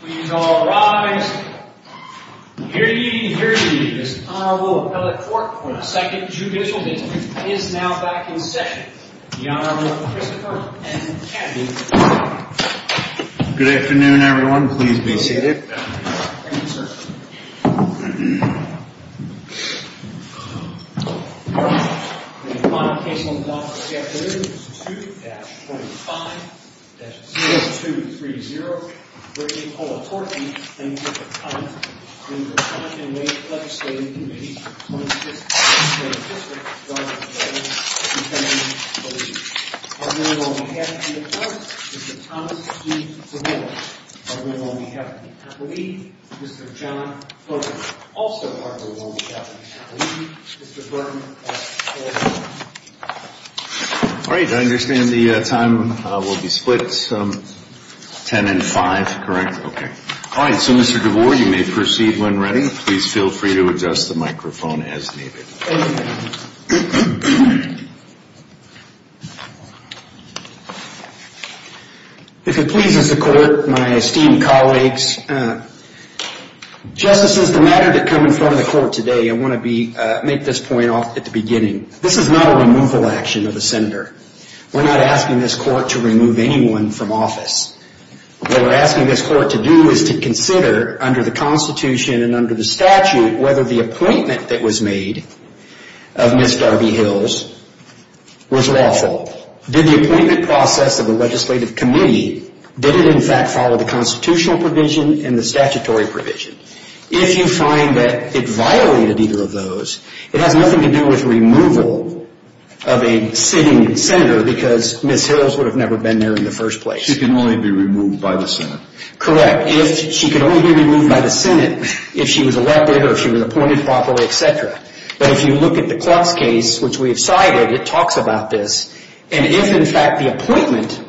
Please all rise. Hear ye, hear ye. This Honorable Appellate Court for the 2nd Judicial District is now back in session. The Honorable Christopher M. Kennedy. Good afternoon, everyone. Please be seated. Thank you, sir. The final case on the block for the afternoon is 2-25-0230. The Honorable Appellate Court for the 2nd Judicial District is now back in session. All right, so Mr. DeVore, you may proceed when ready. Please feel free to adjust the microphone as needed. Thank you. If it pleases the Court, my esteemed colleagues, justices, the matter that come in front of the Court today, I want to make this point at the beginning. This is not a removal action of the Senator. We're not asking this Court to remove anyone from office. What we're asking this Court to do is to consider under the Constitution and under the statute whether the appointment that was made of Ms. Darby Hills was lawful. Did the appointment process of the Legislative Committee, did it in fact follow the Constitutional provision and the statutory provision? If you find that it violated either of those, it has nothing to do with removal of a sitting Senator because Ms. Hills would have never been there in the first place. She can only be removed by the Senate. Correct. She can only be removed by the Senate if she was elected or if she was appointed properly, etc. But if you look at the Clark's case, which we have cited, it talks about this, and if in fact the appointment,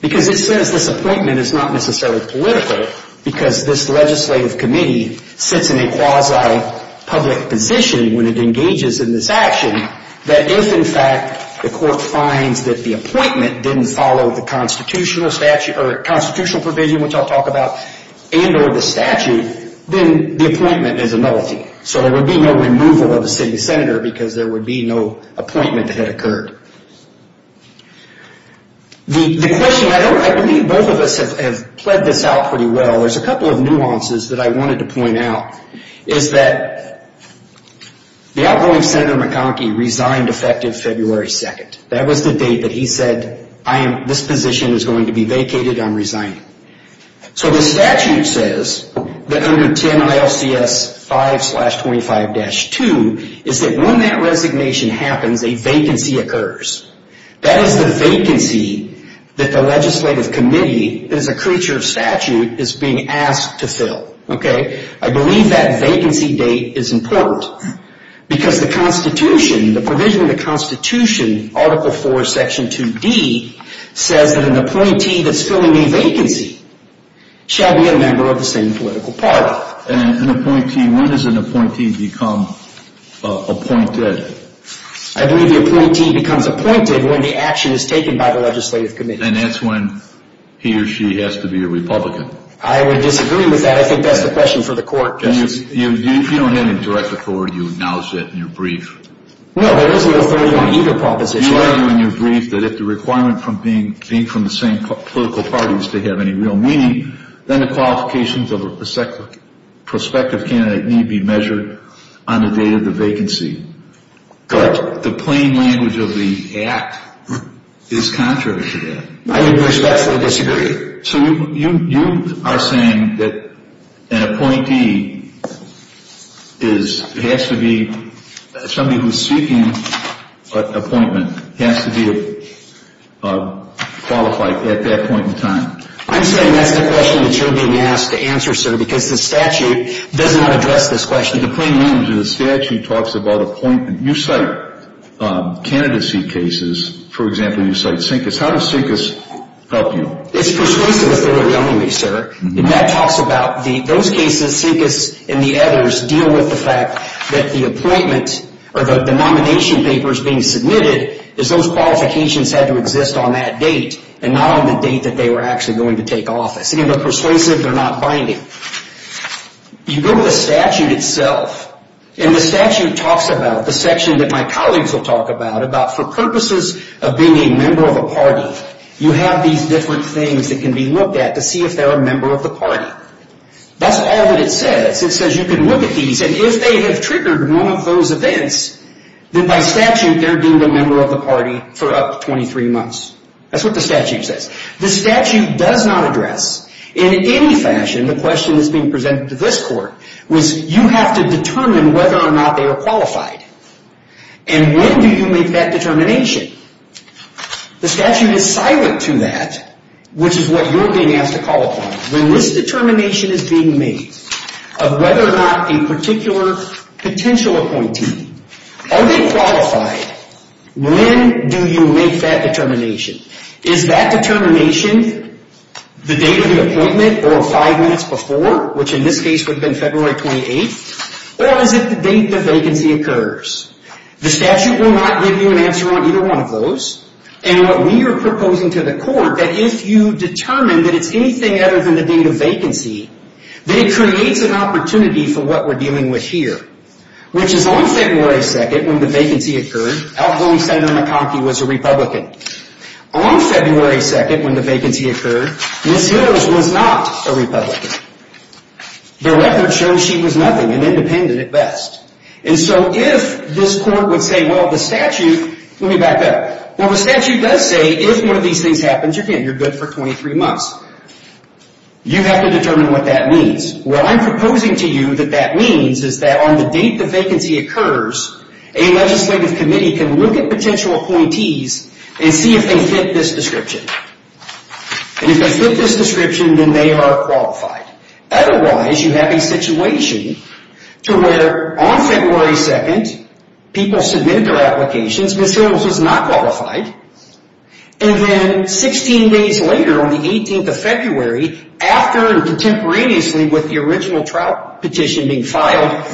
because it says this appointment is not necessarily political because this Legislative Committee sits in a quasi-public position when it engages in this action, that if in fact the Court finds that the appointment didn't follow the Constitutional provision, which I'll talk about, and or the statute, then the appointment is a nullity. So there would be no removal of a sitting Senator because there would be no appointment that had occurred. The question, I believe both of us have played this out pretty well, there's a couple of nuances that I wanted to point out. One is that the outgoing Senator McConkie resigned effective February 2nd. That was the date that he said, this position is going to be vacated, I'm resigning. So the statute says that under 10 ILCS 5-25-2 is that when that resignation happens, a vacancy occurs. That is the vacancy that the Legislative Committee, as a creature of statute, is being asked to fill. I believe that vacancy date is important because the Constitution, the provision of the Constitution, Article 4, Section 2D, says that an appointee that's filling a vacancy shall be a member of the same political party. And an appointee, when does an appointee become appointed? I believe the appointee becomes appointed when the action is taken by the Legislative Committee. And that's when he or she has to be a Republican. I would disagree with that. I think that's the question for the court. If you don't have any direct authority, you announce it in your brief. No, there is no authority on either proposition. You argue in your brief that if the requirement from being from the same political party is to have any real meaning, then the qualifications of a prospective candidate need be measured on the date of the vacancy. Correct. The plain language of the Act is contrary to that. I would respectfully disagree. So you are saying that an appointee has to be somebody who's seeking an appointment, has to be qualified at that point in time? I'm saying that's the question that you're being asked to answer, sir, because the statute does not address this question. The plain language of the statute talks about appointment. You cite candidacy cases. For example, you cite Sinkis. How does Sinkis help you? It's persuasive if they were going to be, sir. And that talks about those cases, Sinkis and the others, deal with the fact that the appointment or the nomination papers being submitted is those qualifications had to exist on that date and not on the date that they were actually going to take office. Again, they're persuasive. They're not binding. You go to the statute itself, and the statute talks about, the section that my colleagues will talk about, for purposes of being a member of a party, you have these different things that can be looked at to see if they're a member of the party. That's all that it says. It says you can look at these, and if they have triggered one of those events, then by statute they're deemed a member of the party for up to 23 months. That's what the statute says. The statute does not address in any fashion the question that's being presented to this Court, which you have to determine whether or not they are qualified. And when do you make that determination? The statute is silent to that, which is what you're being asked to call upon. When this determination is being made of whether or not a particular potential appointee, are they qualified, when do you make that determination? Is that determination the date of the appointment or five months before, which in this case would have been February 28th, or is it the date the vacancy occurs? The statute will not give you an answer on either one of those. And what we are proposing to the Court, that if you determine that it's anything other than the date of vacancy, that it creates an opportunity for what we're dealing with here, which is on February 2nd, when the vacancy occurred, outgoing Senator McConkie was a Republican. On February 2nd, when the vacancy occurred, Ms. Hills was not a Republican. The record shows she was nothing, an independent at best. And so if this Court would say, well, the statute, let me back up, well, the statute does say if one of these things happens, you're good for 23 months. You have to determine what that means. What I'm proposing to you that that means is that on the date the vacancy occurs, a legislative committee can look at potential appointees and see if they fit this description. And if they fit this description, then they are qualified. Otherwise, you have a situation to where on February 2nd, people submit their applications, Ms. Hills is not qualified. And then 16 days later, on the 18th of February, after and contemporaneously with the original trial petition being filed,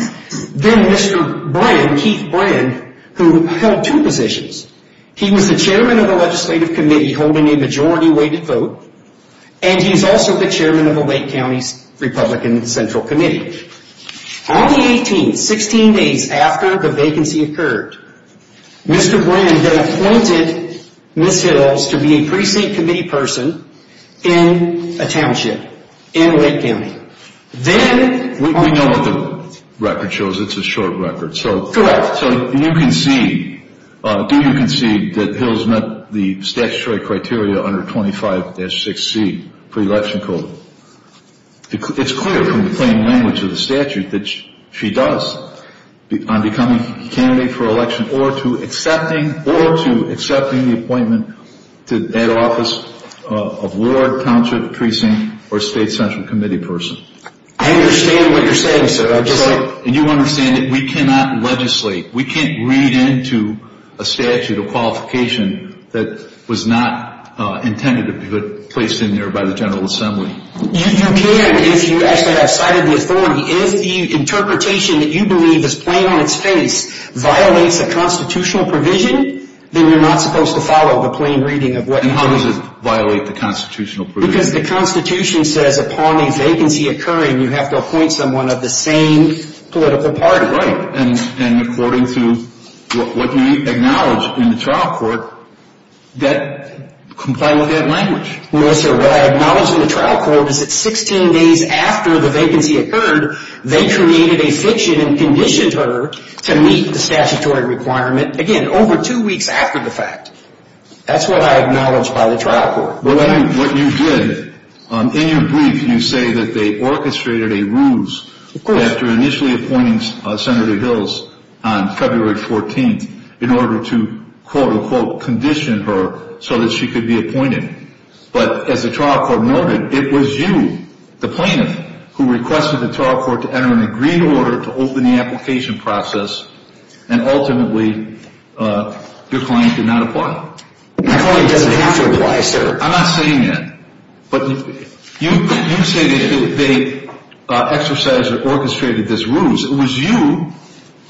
then Mr. Brand, Keith Brand, who held two positions. He was the chairman of the legislative committee holding a majority weighted vote, and he's also the chairman of the Lake County Republican Central Committee. On the 18th, 16 days after the vacancy occurred, Mr. Brand then appointed Ms. Hills to be a precinct committee person in a township in Lake County. Then we know what the record shows. It's a short record. Correct. So do you concede that Hills met the statutory criteria under 25-6C pre-election code? It's clear from the plain language of the statute that she does on becoming a candidate for election or to accepting the appointment to that office of ward, township, precinct, or state central committee person. I understand what you're saying, sir. And you understand that we cannot legislate. We can't read into a statute of qualification that was not intended to be placed in there by the General Assembly. You can if you actually have cited the authority. If the interpretation that you believe is plain on its face violates a constitutional provision, then you're not supposed to follow the plain reading of what you believe. And how does it violate the constitutional provision? Because the Constitution says upon a vacancy occurring, you have to appoint someone of the same political party. Right. And according to what you acknowledge in the trial court, comply with that language. No, sir. What I acknowledge in the trial court is that 16 days after the vacancy occurred, they created a fiction and conditioned her to meet the statutory requirement, again, over two weeks after the fact. That's what I acknowledge by the trial court. But what you did, in your brief, you say that they orchestrated a ruse after initially appointing Senator Hills on February 14th in order to, quote, unquote, condition her so that she could be appointed. But as the trial court noted, it was you, the plaintiff, who requested the trial court to enter an agreed order to open the application process, and ultimately your client did not apply. My client doesn't have to apply, sir. I'm not saying that. But you say that they exercised or orchestrated this ruse. It was you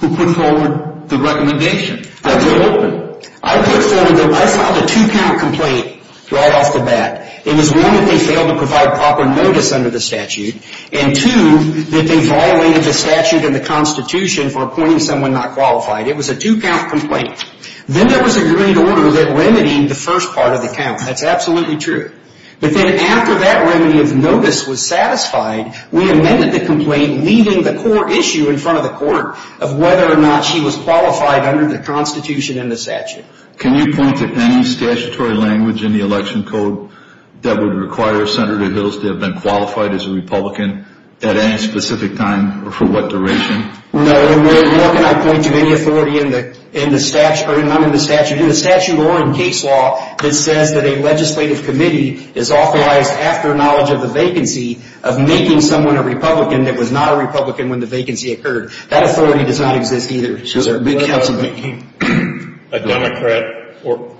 who put forward the recommendation. I did. That was open. I put forward them. I filed a two-count complaint right off the bat. It was, one, that they failed to provide proper notice under the statute, and, two, that they violated the statute and the Constitution for appointing someone not qualified. It was a two-count complaint. Then there was an agreed order that remedied the first part of the count. That's absolutely true. But then after that remedy of notice was satisfied, we amended the complaint leaving the core issue in front of the court of whether or not she was qualified under the Constitution and the statute. Can you point to any statutory language in the election code that would require Senator Hills to have been qualified as a Republican at any specific time or for what duration? No. Nor can I point to any authority in the statute or in case law that says that a legislative committee is authorized after knowledge of the vacancy of making someone a Republican that was not a Republican when the vacancy occurred. That authority does not exist either. A Democrat or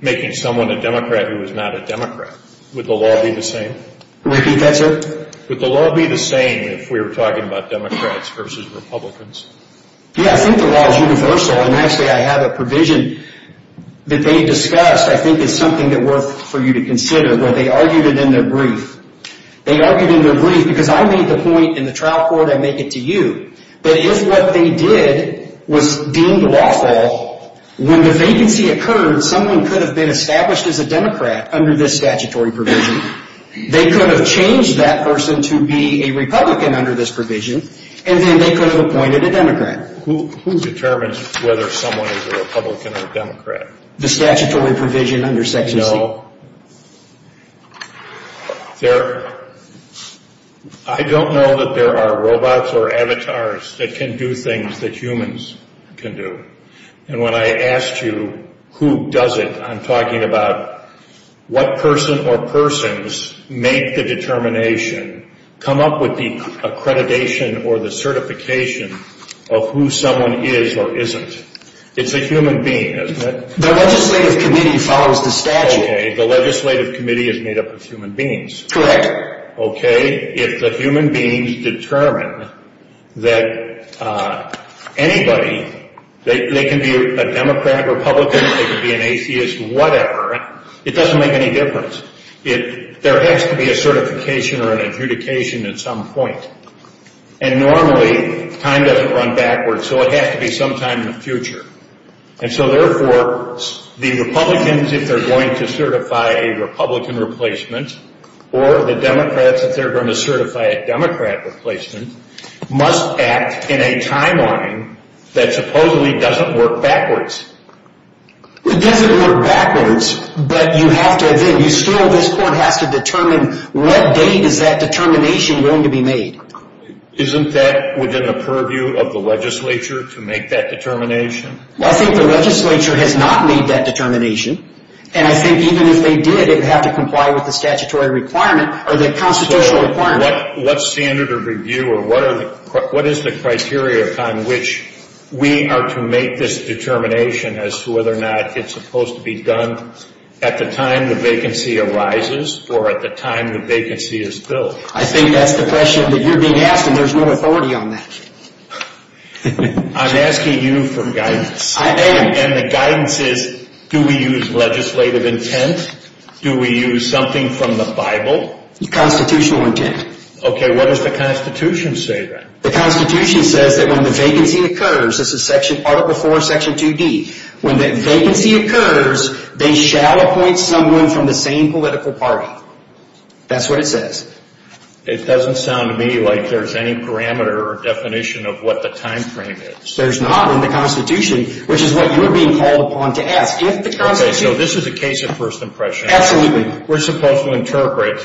making someone a Democrat who is not a Democrat. Would the law be the same? Repeat that, sir? Would the law be the same if we were talking about Democrats versus Republicans? Yes. I think the law is universal. And actually I have a provision that they discussed. I think it's something that's worth for you to consider. They argued it in their brief. They argued it in their brief because I made the point in the trial court, I make it to you, that if what they did was deemed lawful, when the vacancy occurred someone could have been established as a Democrat under this statutory provision. They could have changed that person to be a Republican under this provision, and then they could have appointed a Democrat. Who determines whether someone is a Republican or a Democrat? The statutory provision under Section C. No. I don't know that there are robots or avatars that can do things that humans can do. And when I asked you who does it, I'm talking about what person or persons make the determination, come up with the accreditation or the certification of who someone is or isn't. It's a human being, isn't it? The legislative committee follows the statute. Okay. The legislative committee is made up of human beings. Correct. Okay. If the human beings determine that anybody, they can be a Democrat, Republican, they can be an atheist, whatever. It doesn't make any difference. There has to be a certification or an adjudication at some point. And normally time doesn't run backwards, so it has to be sometime in the future. And so, therefore, the Republicans, if they're going to certify a Republican replacement, or the Democrats, if they're going to certify a Democrat replacement, must act in a timeline that supposedly doesn't work backwards. It doesn't work backwards, but you still, this court has to determine what date is that determination going to be made. Isn't that within the purview of the legislature to make that determination? I think the legislature has not made that determination. And I think even if they did, it would have to comply with the statutory requirement or the constitutional requirement. What standard of review or what is the criteria on which we are to make this determination as to whether or not it's supposed to be done at the time the vacancy arises or at the time the vacancy is filled? I think that's the question that you're being asked, and there's no authority on that. I'm asking you for guidance. I am. And the guidance is, do we use legislative intent? Do we use something from the Bible? No, constitutional intent. Okay, what does the Constitution say then? The Constitution says that when the vacancy occurs, this is Article IV, Section 2D, when the vacancy occurs, they shall appoint someone from the same political party. That's what it says. It doesn't sound to me like there's any parameter or definition of what the time frame is. There's not in the Constitution, which is what you're being called upon to ask. Okay, so this is a case of first impression. Absolutely. We're supposed to interpret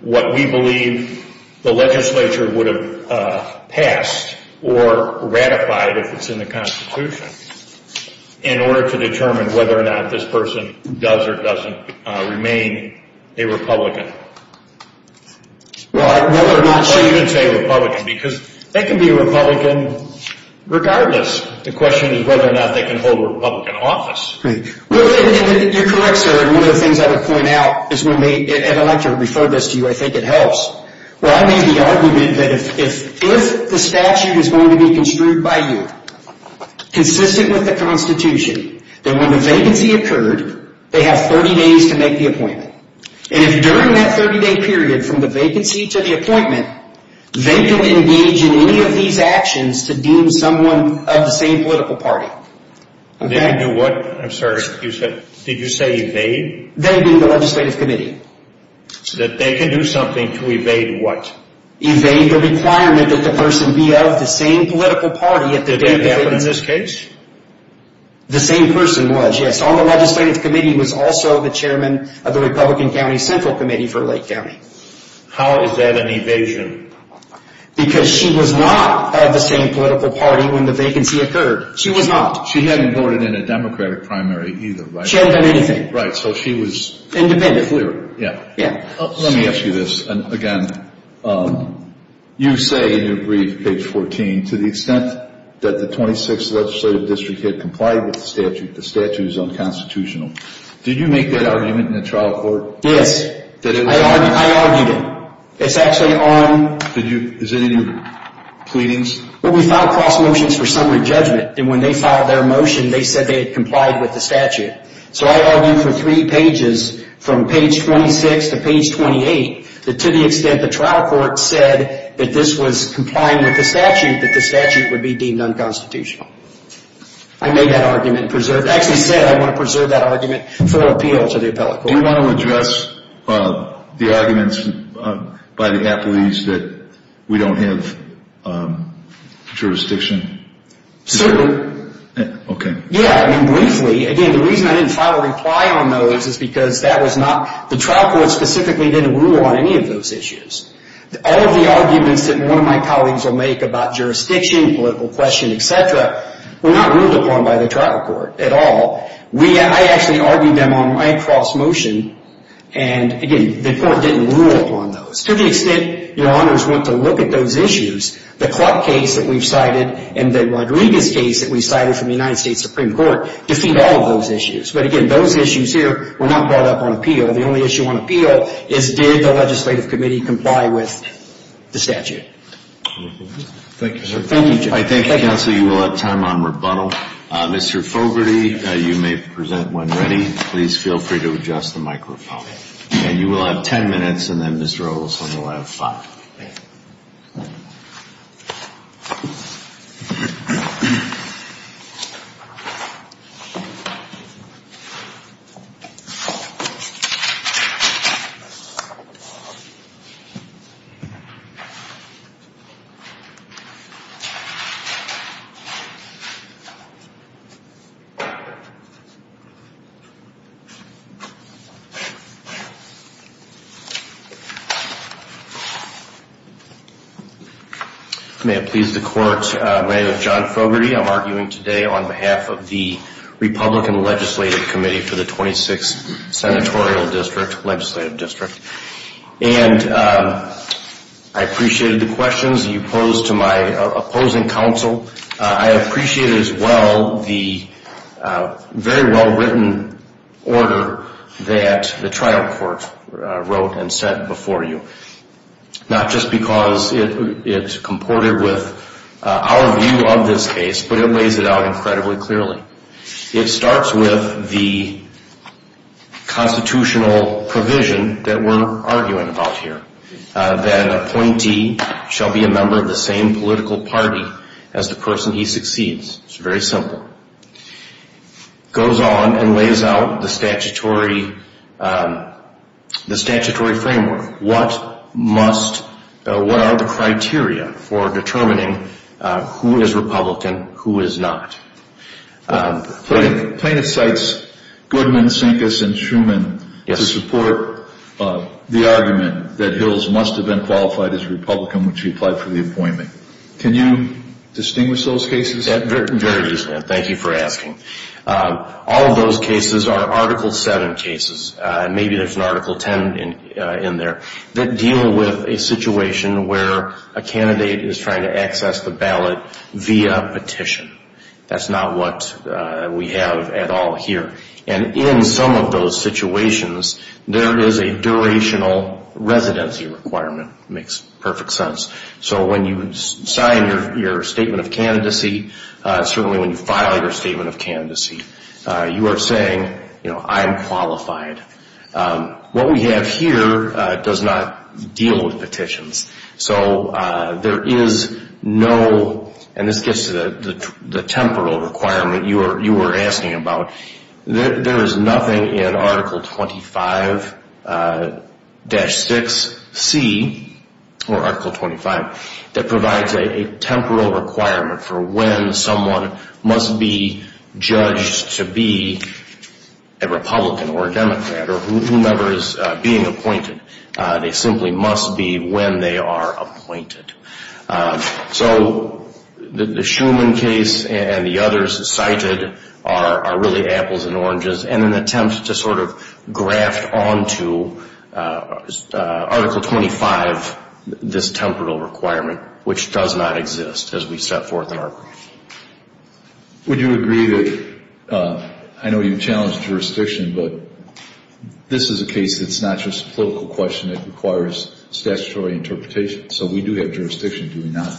what we believe the legislature would have passed or ratified if it's in the Constitution, in order to determine whether or not this person does or doesn't remain a Republican. Well, whether or not... So you didn't say Republican, because they can be Republican regardless. The question is whether or not they can hold a Republican office. You're correct, sir. One of the things I would point out, and I'd like to refer this to you, I think it helps. I made the argument that if the statute is going to be construed by you, consistent with the Constitution, that when the vacancy occurred, they have 30 days to make the appointment. And if during that 30-day period, from the vacancy to the appointment, they can engage in any of these actions to deem someone of the same political party. They can do what? I'm sorry, you said... Did you say evade? They do the legislative committee. That they can do something to evade what? Evade the requirement that the person be of the same political party... Did they happen in this case? The same person was, yes. On the legislative committee was also the chairman of the Republican County Central Committee for Lake County. How is that an evasion? Because she was not of the same political party when the vacancy occurred. She was not. She hadn't voted in a Democratic primary either, right? She hadn't done anything. Right, so she was... Independent. Yeah. Let me ask you this again. You say in your brief, page 14, to the extent that the 26th Legislative District had complied with the statute, the statute is unconstitutional. Did you make that argument in the trial court? Yes. I argued it. It's actually on... Is it in your pleadings? Well, we filed cross motions for summary judgment, and when they filed their motion, they said they had complied with the statute. So I argued for three pages, from page 26 to page 28, that to the extent the trial court said that this was complying with the statute, that the statute would be deemed unconstitutional. I made that argument and preserved it. I actually said I want to preserve that argument for appeal to the appellate court. Do you want to address the arguments by the appellees that we don't have jurisdiction? Certainly. Okay. Yeah, I mean, briefly, again, the reason I didn't file a reply on those is because that was not... The trial court specifically didn't rule on any of those issues. All of the arguments that one of my colleagues will make about jurisdiction, political question, et cetera, were not ruled upon by the trial court at all. I actually argued them on my cross motion, and, again, the court didn't rule upon those. To the extent your honors want to look at those issues, the Clark case that we've cited and the Rodriguez case that we've cited from the United States Supreme Court defeat all of those issues. But, again, those issues here were not brought up on appeal. The only issue on appeal is did the legislative committee comply with the statute. Thank you, sir. Thank you, Jim. I think, counsel, you will have time on rebuttal. Mr. Fogarty, you may present when ready. Please feel free to adjust the microphone. Okay. And you will have ten minutes, and then Ms. Rose will have five. May it please the court, my name is John Fogarty. I'm arguing today on behalf of the Republican Legislative Committee for the 26th Senatorial District, Legislative District. And I appreciated the questions you posed to my opposing counsel. I appreciated as well the very well-written order that the trial court wrote and sent before you, not just because it's comported with our view of this case, but it lays it out incredibly clearly. It starts with the constitutional provision that we're arguing about here, that an appointee shall be a member of the same political party as the person he succeeds. It's very simple. It goes on and lays out the statutory framework. What are the criteria for determining who is Republican, who is not? Plaintiff cites Goodman, Sinkus, and Schuman to support the argument that Hills must have been qualified as Republican when she applied for the appointment. Can you distinguish those cases? Very easily, and thank you for asking. All of those cases are Article VII cases, and maybe there's an Article X in there, that deal with a situation where a candidate is trying to access the ballot via petition. That's not what we have at all here. And in some of those situations, there is a durational residency requirement. It makes perfect sense. So when you sign your statement of candidacy, certainly when you file your statement of candidacy, you are saying, you know, I'm qualified. What we have here does not deal with petitions. So there is no, and this gets to the temporal requirement you were asking about, there is nothing in Article XXV-6C, or Article XXV, that provides a temporal requirement for when someone must be judged to be a Republican or a Democrat or whomever is being appointed. They simply must be when they are appointed. So the Schuman case and the others cited are really apples and oranges, and an attempt to sort of graft onto Article XXV, this temporal requirement, which does not exist as we set forth in our brief. Would you agree that, I know you challenged jurisdiction, but this is a case that's not just a political question, it requires statutory interpretation. So we do have jurisdiction, do we not?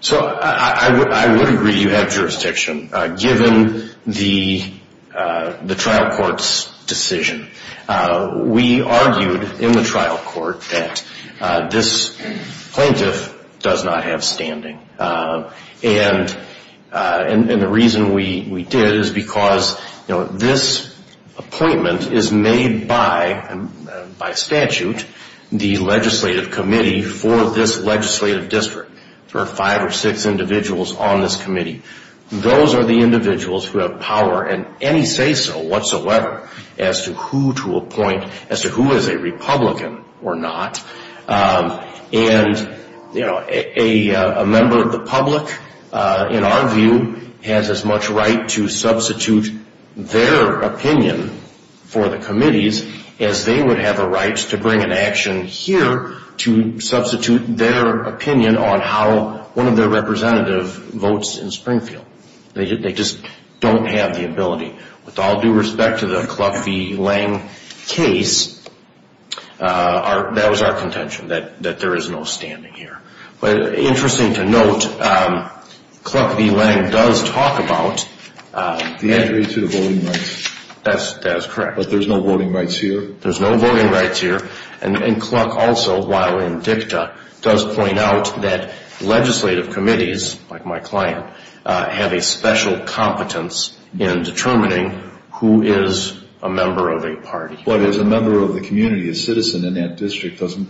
So I would agree you have jurisdiction. Given the trial court's decision, we argued in the trial court that this plaintiff does not have standing. And the reason we did is because, you know, this appointment is made by, by statute, the legislative committee for this legislative district. There are five or six individuals on this committee. Those are the individuals who have power in any say-so whatsoever as to who to appoint, as to who is a Republican or not. And, you know, a member of the public, in our view, has as much right to substitute their opinion for the committee's as they would have a right to bring an action here to substitute their opinion on how one of their representative votes in Springfield. They just don't have the ability. With all due respect to the Cluck v. Lange case, that was our contention, that there is no standing here. But interesting to note, Cluck v. Lange does talk about the entry to the voting rights. That is correct. But there's no voting rights here? There's no voting rights here. And Cluck also, while in dicta, does point out that legislative committees, like my client, have a special competence in determining who is a member of a party. But as a member of the community, a citizen in that district, doesn't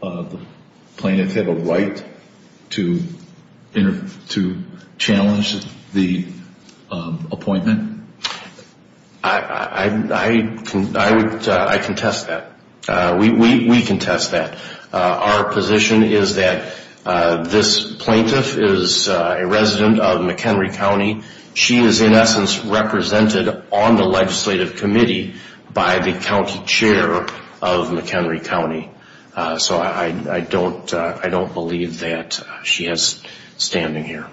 the plaintiff have a right to challenge the appointment? I contest that. We contest that. Our position is that this plaintiff is a resident of McHenry County. She is, in essence, represented on the legislative committee by the county chair of McHenry County. So I don't believe that she has standing here.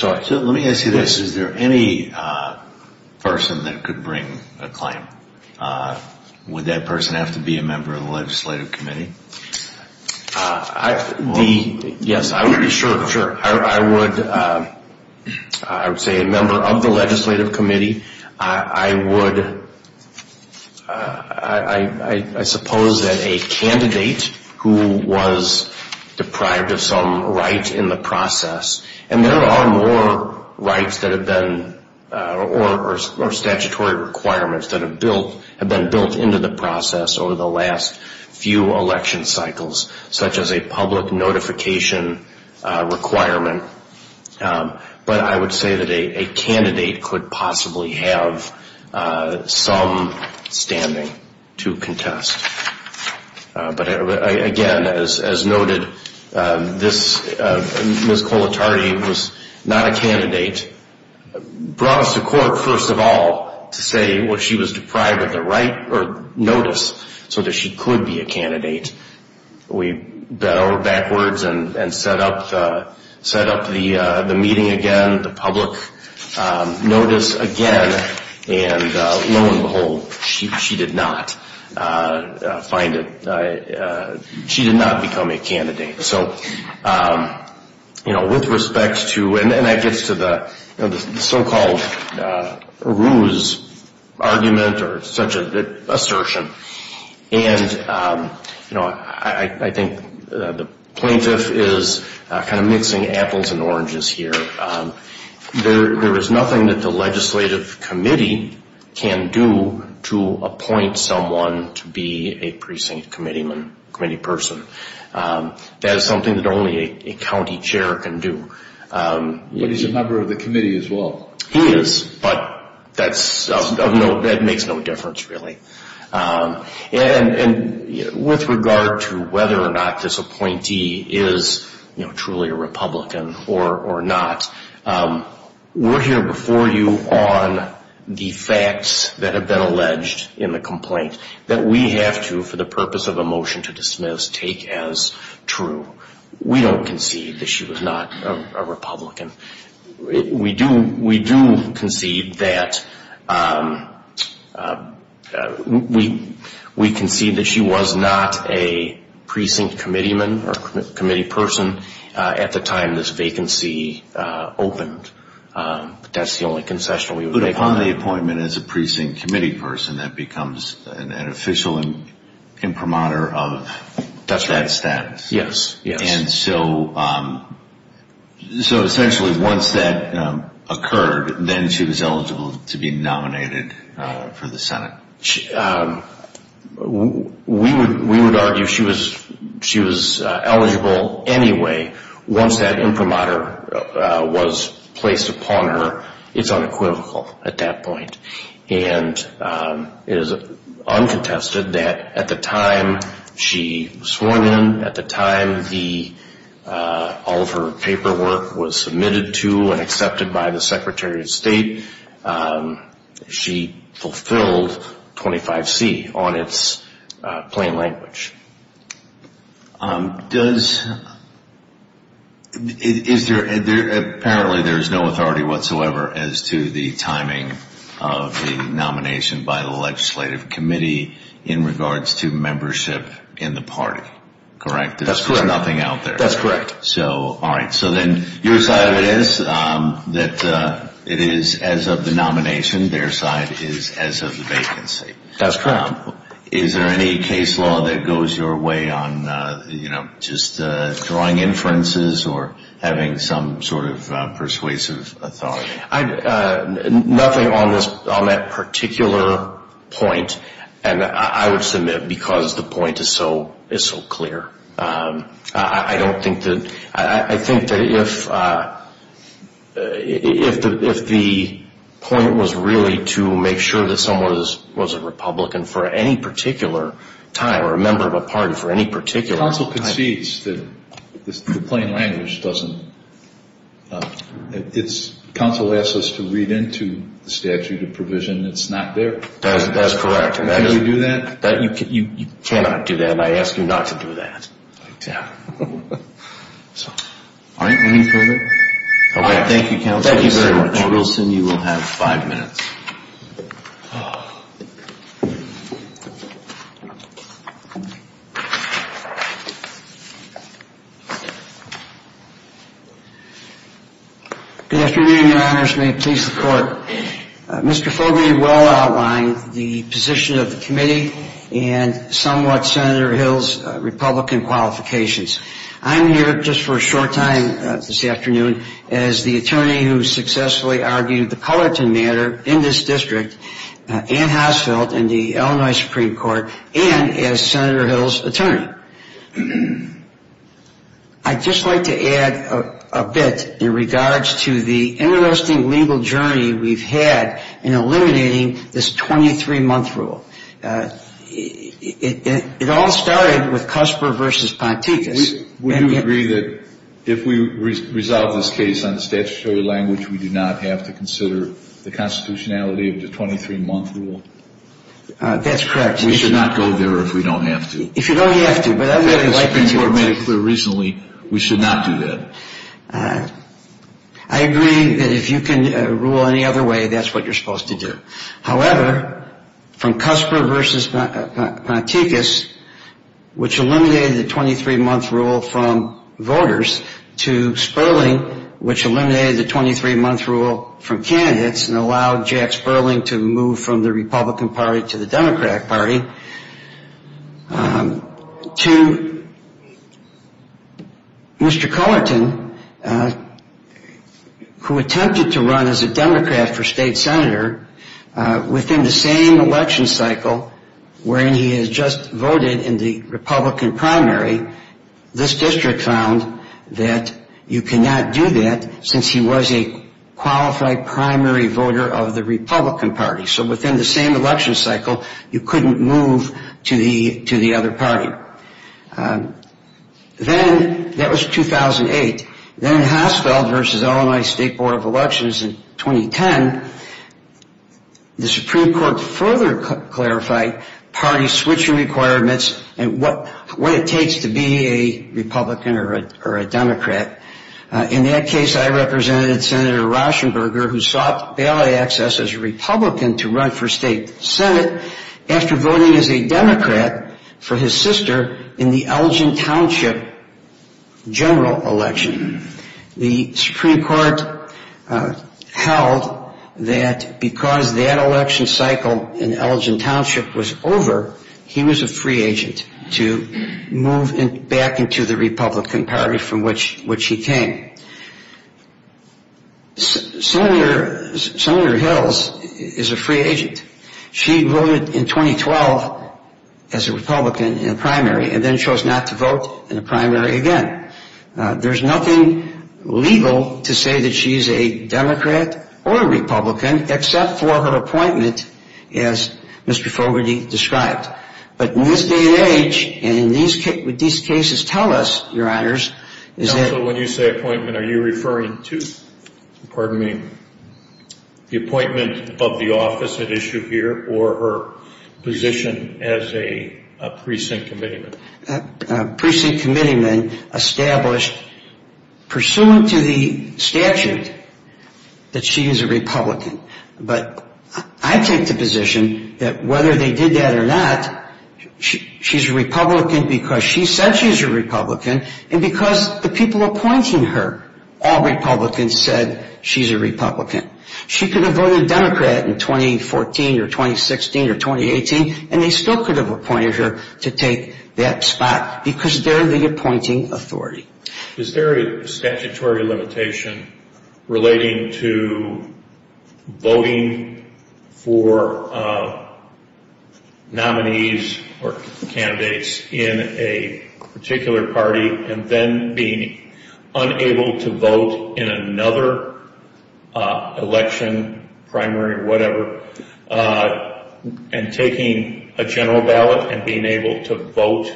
Let me ask you this. Is there any person that could bring a claim? Would that person have to be a member of the legislative committee? Yes, I would say a member of the legislative committee. I would, I suppose that a candidate who was deprived of some right in the process, and there are more rights that have been, or statutory requirements, that have been built into the process over the last few election cycles, such as a public notification requirement. But I would say that a candidate could possibly have some standing to contest. But again, as noted, Ms. Colatardi was not a candidate. Brought us to court, first of all, to say she was deprived of the right, or notice, so that she could be a candidate. We bent over backwards and set up the meeting again, the public notice again, and lo and behold, she did not find it. She did not become a candidate. So with respect to, and that gets to the so-called ruse argument, or such an assertion. And I think the plaintiff is kind of mixing apples and oranges here. There is nothing that the legislative committee can do to appoint someone to be a precinct committee person. That is something that only a county chair can do. But he's a member of the committee as well. He is, but that makes no difference really. And with regard to whether or not this appointee is truly a Republican or not, we're here before you on the facts that have been alleged in the complaint that we have to, for the purpose of a motion to dismiss, take as true. We don't concede that she was not a Republican. We do concede that she was not a precinct committee person at the time this vacancy opened. That's the only concession we would make on it. But upon the appointment as a precinct committee person, that becomes an official imprimatur of that status. Yes, yes. And so essentially once that occurred, then she was eligible to be nominated for the Senate. We would argue she was eligible anyway once that imprimatur was placed upon her. It's unequivocal at that point. And it is uncontested that at the time she was sworn in, at the time all of her paperwork was submitted to and accepted by the Secretary of State, she fulfilled 25C on its plain language. Apparently there is no authority whatsoever as to the timing of the nomination by the legislative committee in regards to membership in the party, correct? That's correct. There's nothing out there. That's correct. All right. So then your side of it is that it is as of the nomination. Their side is as of the vacancy. That's correct. Is there any case law that goes your way on just drawing inferences or having some sort of persuasive authority? Nothing on that particular point. And I would submit because the point is so clear. I don't think that the point was really to make sure that someone was a Republican for any particular time or a member of a party for any particular time. Counsel concedes that the plain language doesn't. Counsel asks us to read into the statute of provision. It's not there. That's correct. Can you do that? You cannot do that, and I ask you not to do that. I doubt it. All right. Any further? All right. Thank you, Counsel. Thank you very much. Counsel Wilson, you will have five minutes. Good afternoon, Your Honors. May it please the Court. Mr. Fogarty well outlined the position of the committee and somewhat Senator Hill's Republican qualifications. I'm here just for a short time this afternoon as the attorney who successfully argued the Pullerton matter in this district and Housefeld in the Illinois Supreme Court and as Senator Hill's attorney. I'd just like to add a bit in regards to the interesting legal journey we've had in eliminating this 23-month rule. It all started with Cusper v. Ponticus. Would you agree that if we resolve this case on the statutory language, we do not have to consider the constitutionality of the 23-month rule? That's correct. We should not go there if we don't have to. If you don't have to. But I would like to make it clear recently we should not do that. I agree that if you can rule any other way, that's what you're supposed to do. However, from Cusper v. Ponticus, which eliminated the 23-month rule from voters, to Sperling, which eliminated the 23-month rule from candidates and allowed Jack Sperling to move from the Republican Party to the Democrat Party, to Mr. Cullerton, who attempted to run as a Democrat for state senator, within the same election cycle wherein he had just voted in the Republican primary, this district found that you cannot do that since he was a qualified primary voter of the Republican Party. So within the same election cycle, you couldn't move to the other party. Then that was 2008. Then in Hasfeld v. Illinois State Board of Elections in 2010, the Supreme Court further clarified party switching requirements and what it takes to be a Republican or a Democrat. In that case, I represented Senator Rauschenberger, who sought bailout access as a Republican to run for state senate after voting as a Democrat for his sister in the Elgin Township general election. The Supreme Court held that because that election cycle in Elgin Township was over, he was a free agent to move back into the Republican Party from which he came. Senator Hills is a free agent. She voted in 2012 as a Republican in the primary and then chose not to vote in the primary again. There's nothing legal to say that she's a Democrat or a Republican except for her appointment as Mr. Fogarty described. But in this day and age, and what these cases tell us, Your Honors, is that So when you say appointment, are you referring to, pardon me, the appointment of the office at issue here or her position as a precinct committeeman? precinct committeeman established pursuant to the statute that she is a Republican. But I take the position that whether they did that or not, she's a Republican because she said she's a Republican and because the people appointing her, all Republicans, said she's a Republican. She could have voted Democrat in 2014 or 2016 or 2018, and they still could have appointed her to take that spot because they're the appointing authority. Is there a statutory limitation relating to voting for nominees or candidates in a particular party and then being unable to vote in another election, primary or whatever, and taking a general ballot and being able to vote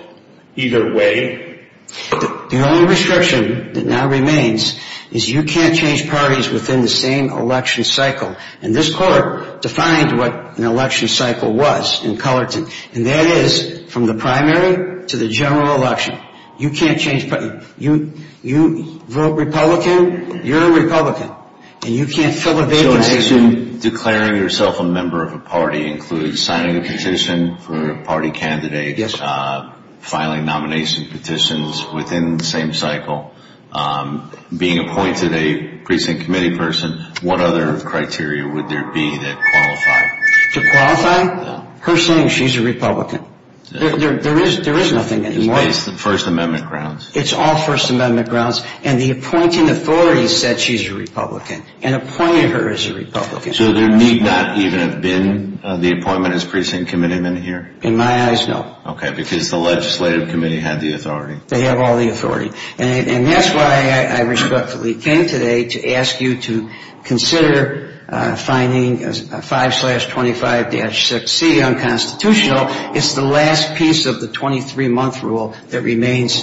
either way? The only restriction that now remains is you can't change parties within the same election cycle. And this court defined what an election cycle was in Cullerton, and that is from the primary to the general election. You can't change parties. You vote Republican, you're a Republican, and you can't fill a vacancy. So in addition, declaring yourself a member of a party includes signing a petition for a party candidate, filing nomination petitions within the same cycle, being appointed a precinct committee person. What other criteria would there be that qualify? To qualify? Her saying she's a Republican. There is nothing anymore. Based on First Amendment grounds. It's all First Amendment grounds, and the appointing authority said she's a Republican and appointed her as a Republican. So there need not even have been the appointment as precinct committeeman here? In my eyes, no. Okay, because the legislative committee had the authority. They have all the authority. And that's why I respectfully came today to ask you to consider finding 5-25-6C unconstitutional. It's the last piece of the 23-month rule that remains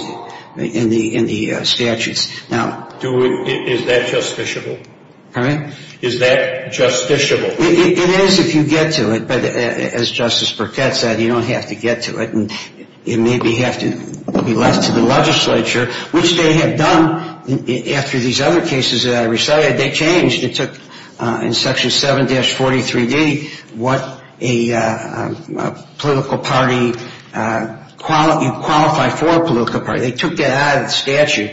in the statutes. Is that justiciable? Pardon me? Is that justiciable? It is if you get to it. But as Justice Burkett said, you don't have to get to it. It may be left to the legislature, which they have done after these other cases that I recited. They changed. It took, in Section 7-43D, what a political party, you qualify for a political party. They took that out of the statute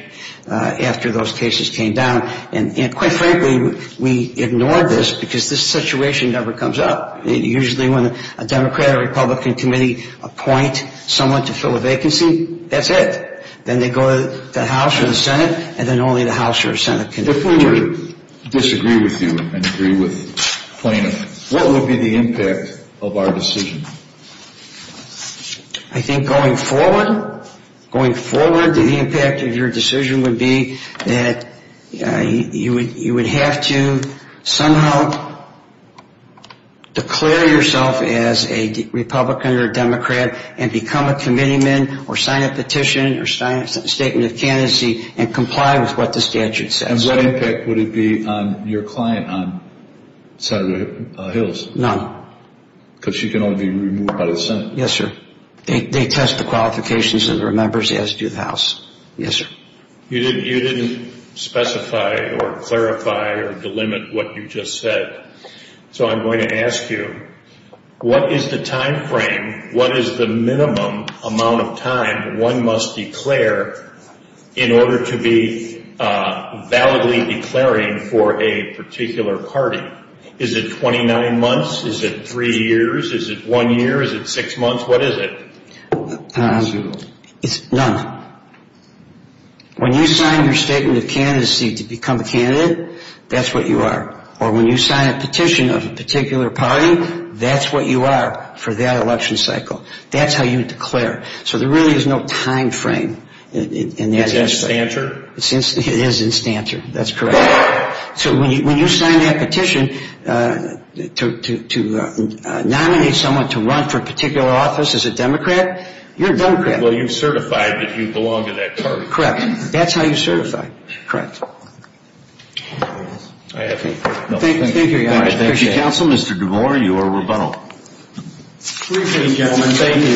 after those cases came down. And quite frankly, we ignored this because this situation never comes up. Usually when a Democrat or Republican committee appoint someone to fill a vacancy, that's it. Then they go to the House or the Senate, and then only the House or Senate can do it. If we were to disagree with you and agree with plaintiffs, what would be the impact of our decision? I think going forward, going forward, the impact of your decision would be that you would have to somehow declare yourself as a Republican or a Democrat and become a committeeman or sign a petition or sign a statement of candidacy and comply with what the statute says. And what impact would it be on your client on Senator Hills? None. Because she can only be removed by the Senate. Yes, sir. They test the qualifications of their members as do the House. Yes, sir. You didn't specify or clarify or delimit what you just said. So I'm going to ask you, what is the timeframe, what is the minimum amount of time one must declare in order to be validly declaring for a particular party? Is it 29 months? Is it three years? Is it one year? Is it six months? What is it? It's none. When you sign your statement of candidacy to become a candidate, that's what you are. Or when you sign a petition of a particular party, that's what you are for that election cycle. That's how you declare. So there really is no timeframe. Is that stancher? It is in stancher. That's correct. So when you sign that petition to nominate someone to run for a particular office as a Democrat, you're a Democrat. Well, you've certified that you belong to that party. Correct. That's how you certify. Thank you, Your Honor. I appreciate it. Thank you, Counsel. Mr. DeMore, you are rebuttal. Briefing, gentlemen. Thank you.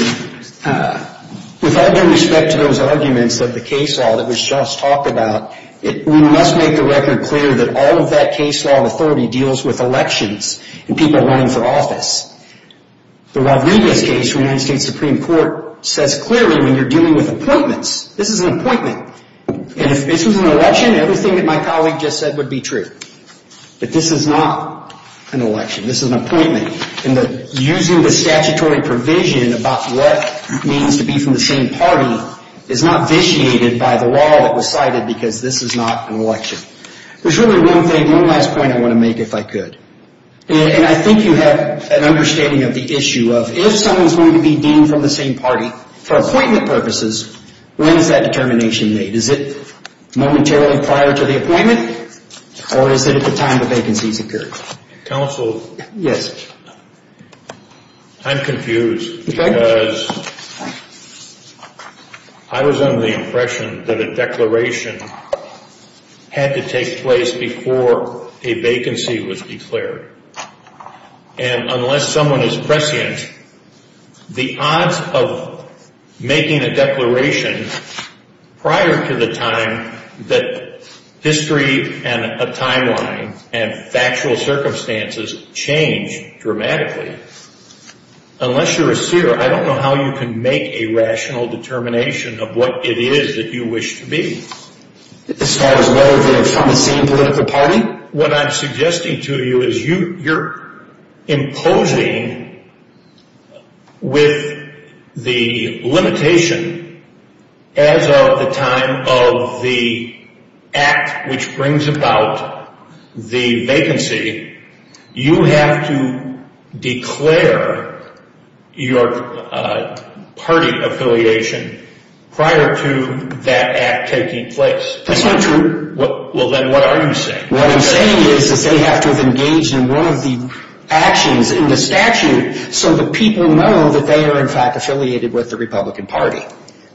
With all due respect to those arguments of the case law that was just talked about, we must make the record clear that all of that case law authority deals with elections and people running for office. The Rodriguez case from the United States Supreme Court says clearly when you're dealing with appointments, this is an appointment. And if this was an election, everything that my colleague just said would be true. But this is not an election. This is an appointment. And using the statutory provision about what it means to be from the same party is not vitiated by the law that was cited because this is not an election. There's really one thing, one last point I want to make if I could. And I think you have an understanding of the issue of if someone's going to be deemed from the same party for appointment purposes, when is that determination made? Is it momentarily prior to the appointment? Or is it at the time the vacancies occurred? Counsel. Yes. I'm confused because I was under the impression that a declaration had to take place before a vacancy was declared. And unless someone is prescient, the odds of making a declaration prior to the time that history and a timeline and factual circumstances change dramatically. Unless you're a seer, I don't know how you can make a rational determination of what it is that you wish to be. As far as whether they're from the same political party? What I'm suggesting to you is you're imposing with the limitation as of the time of the act which brings about the vacancy, you have to declare your party affiliation prior to that act taking place. That's not true. Well, then what are you saying? What I'm saying is that they have to have engaged in one of the actions in the statute so that people know that they are, in fact, affiliated with the Republican Party.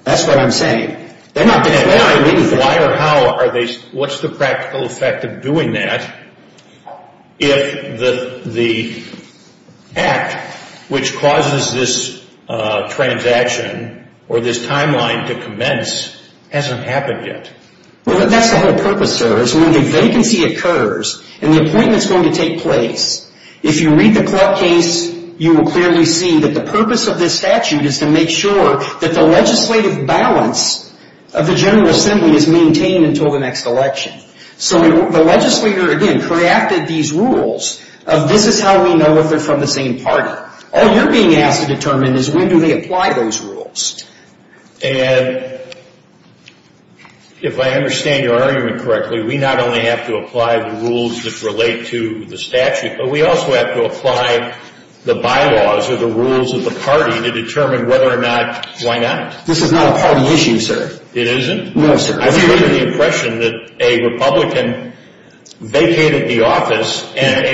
That's what I'm saying. They're not declaring anything. Why or how are they? What's the practical effect of doing that if the act which causes this transaction or this timeline to commence hasn't happened yet? Well, that's the whole purpose, sir. When the vacancy occurs and the appointment is going to take place, if you read the Clark case, you will clearly see that the purpose of this statute is to make sure that the legislative balance of the General Assembly is maintained until the next election. So the legislator, again, crafted these rules of this is how we know if they're from the same party. All you're being asked to determine is when do they apply those rules. And if I understand your argument correctly, we not only have to apply the rules that relate to the statute, but we also have to apply the bylaws or the rules of the party to determine whether or not, why not? This is not a party issue, sir. It isn't? No, sir. I have the impression that a Republican vacated the office and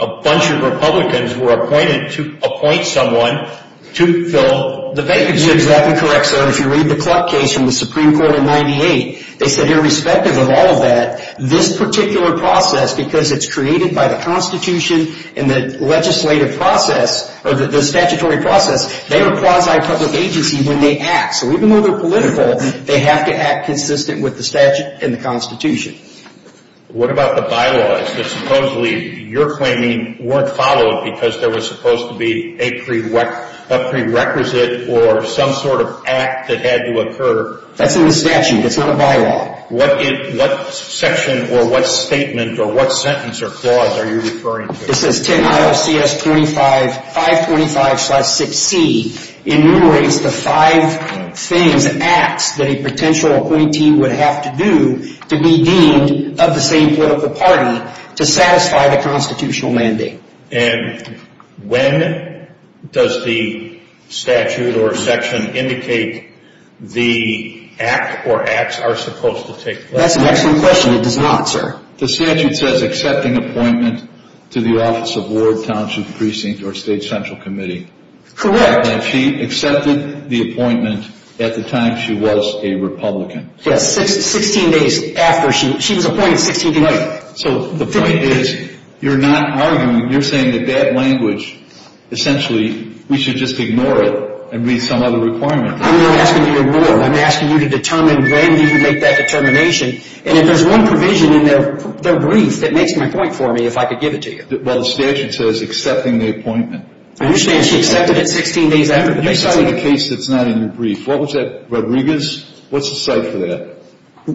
a bunch of Republicans were appointed to appoint someone to fill the vacancy. Exactly correct, sir. If you read the Clark case from the Supreme Court in 98, they said irrespective of all of that, this particular process, because it's created by the Constitution and the legislative process, or the statutory process, they are a quasi-public agency when they act. So even though they're political, they have to act consistent with the statute and the Constitution. What about the bylaws that supposedly you're claiming weren't followed because there was supposed to be a prerequisite or some sort of act that had to occur? That's in the statute. It's not a bylaw. What section or what statement or what sentence or clause are you referring to? It says 10 IOCS 525-6C enumerates the five things, acts, that a potential appointee would have to do to be deemed of the same political party to satisfy the constitutional mandate. And when does the statute or section indicate the act or acts are supposed to take place? That's an excellent question. It does not, sir. The statute says accepting appointment to the Office of Ward, Township, Precinct, or State Central Committee. Correct. And she accepted the appointment at the time she was a Republican. Yes, 16 days after she was appointed, 16 days. So the point is you're not arguing. You're saying that that language, essentially, we should just ignore it and read some other requirement. I'm not asking you to ignore it. I'm asking you to determine when you can make that determination. And if there's one provision in their brief that makes my point for me, if I could give it to you. Well, the statute says accepting the appointment. I understand she accepted it 16 days after. You cited a case that's not in your brief. What was that, Rodriguez? What's the cite for that?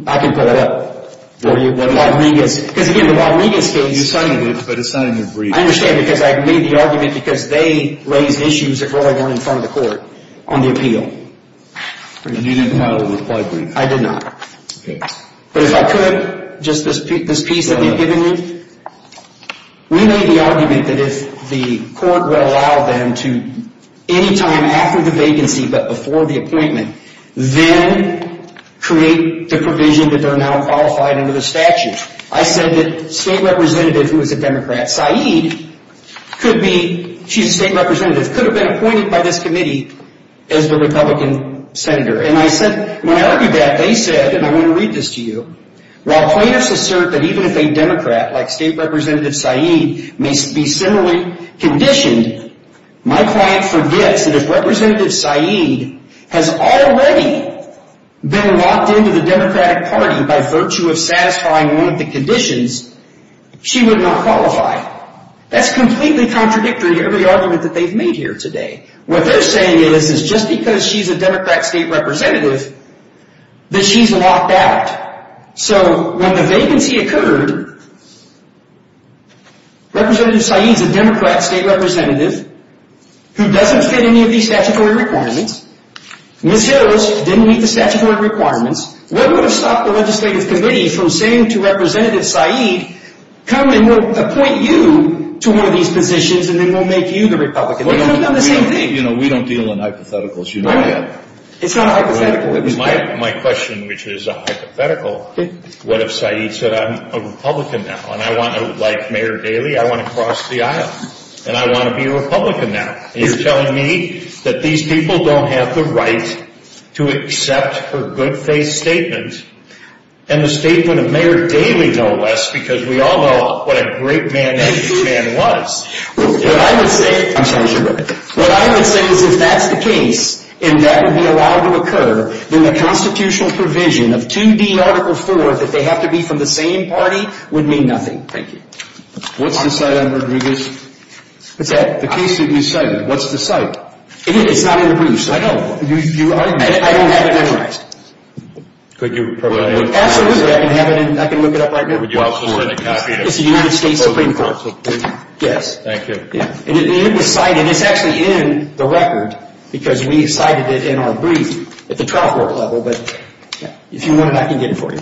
I can pull it up for you. Rodriguez. Because, again, the Rodriguez case. You cited it, but it's not in your brief. I understand because I made the argument because they raised issues that really weren't in front of the court on the appeal. And you didn't file a reply brief? I did not. But if I could, just this piece that they've given you, we made the argument that if the court will allow them to, any time after the vacancy but before the appointment, then create the provision that they're now qualified under the statute. I said that state representative who is a Democrat, Saeed, could be, she's a state representative, could have been appointed by this committee as the Republican senator. When I argued that, they said, and I want to read this to you, while plaintiffs assert that even if a Democrat, like state representative Saeed, may be similarly conditioned, my client forgets that if representative Saeed has already been locked into the Democratic Party by virtue of satisfying one of the conditions, she would not qualify. That's completely contradictory to every argument that they've made here today. What they're saying is, is just because she's a Democrat state representative, that she's locked out. So when the vacancy occurred, representative Saeed's a Democrat state representative who doesn't fit any of these statutory requirements. Ms. Hills didn't meet the statutory requirements. What would have stopped the legislative committee from saying to representative Saeed, come and we'll appoint you to one of these positions and then we'll make you the Republican. We don't deal in hypotheticals. It's not a hypothetical. My question, which is a hypothetical, what if Saeed said I'm a Republican now and I want to, like Mayor Daley, I want to cross the aisle and I want to be a Republican now. And you're telling me that these people don't have the right to accept her good faith statement and the statement of Mayor Daley, no less, because we all know what a great man that man was. What I would say is if that's the case and that would be allowed to occur, then the constitutional provision of 2D article 4, that they have to be from the same party, would mean nothing. Thank you. What's the site on Rodriguez? What's that? The case that you cited. What's the site? It's not in the briefs. I know. I don't have it memorized. Could you provide it? Absolutely. I can look it up right now. It's the United States Supreme Court. Yes. Thank you. It was cited. It's actually in the record because we cited it in our brief at the trial court level, but if you want it, I can get it for you.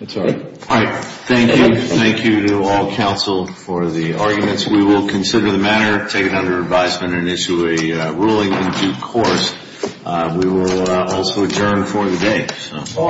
That's all right. Thank you. Thank you to all counsel for the arguments. We will consider the matter, take it under advisement, and issue a ruling in due course. We will also adjourn for the day.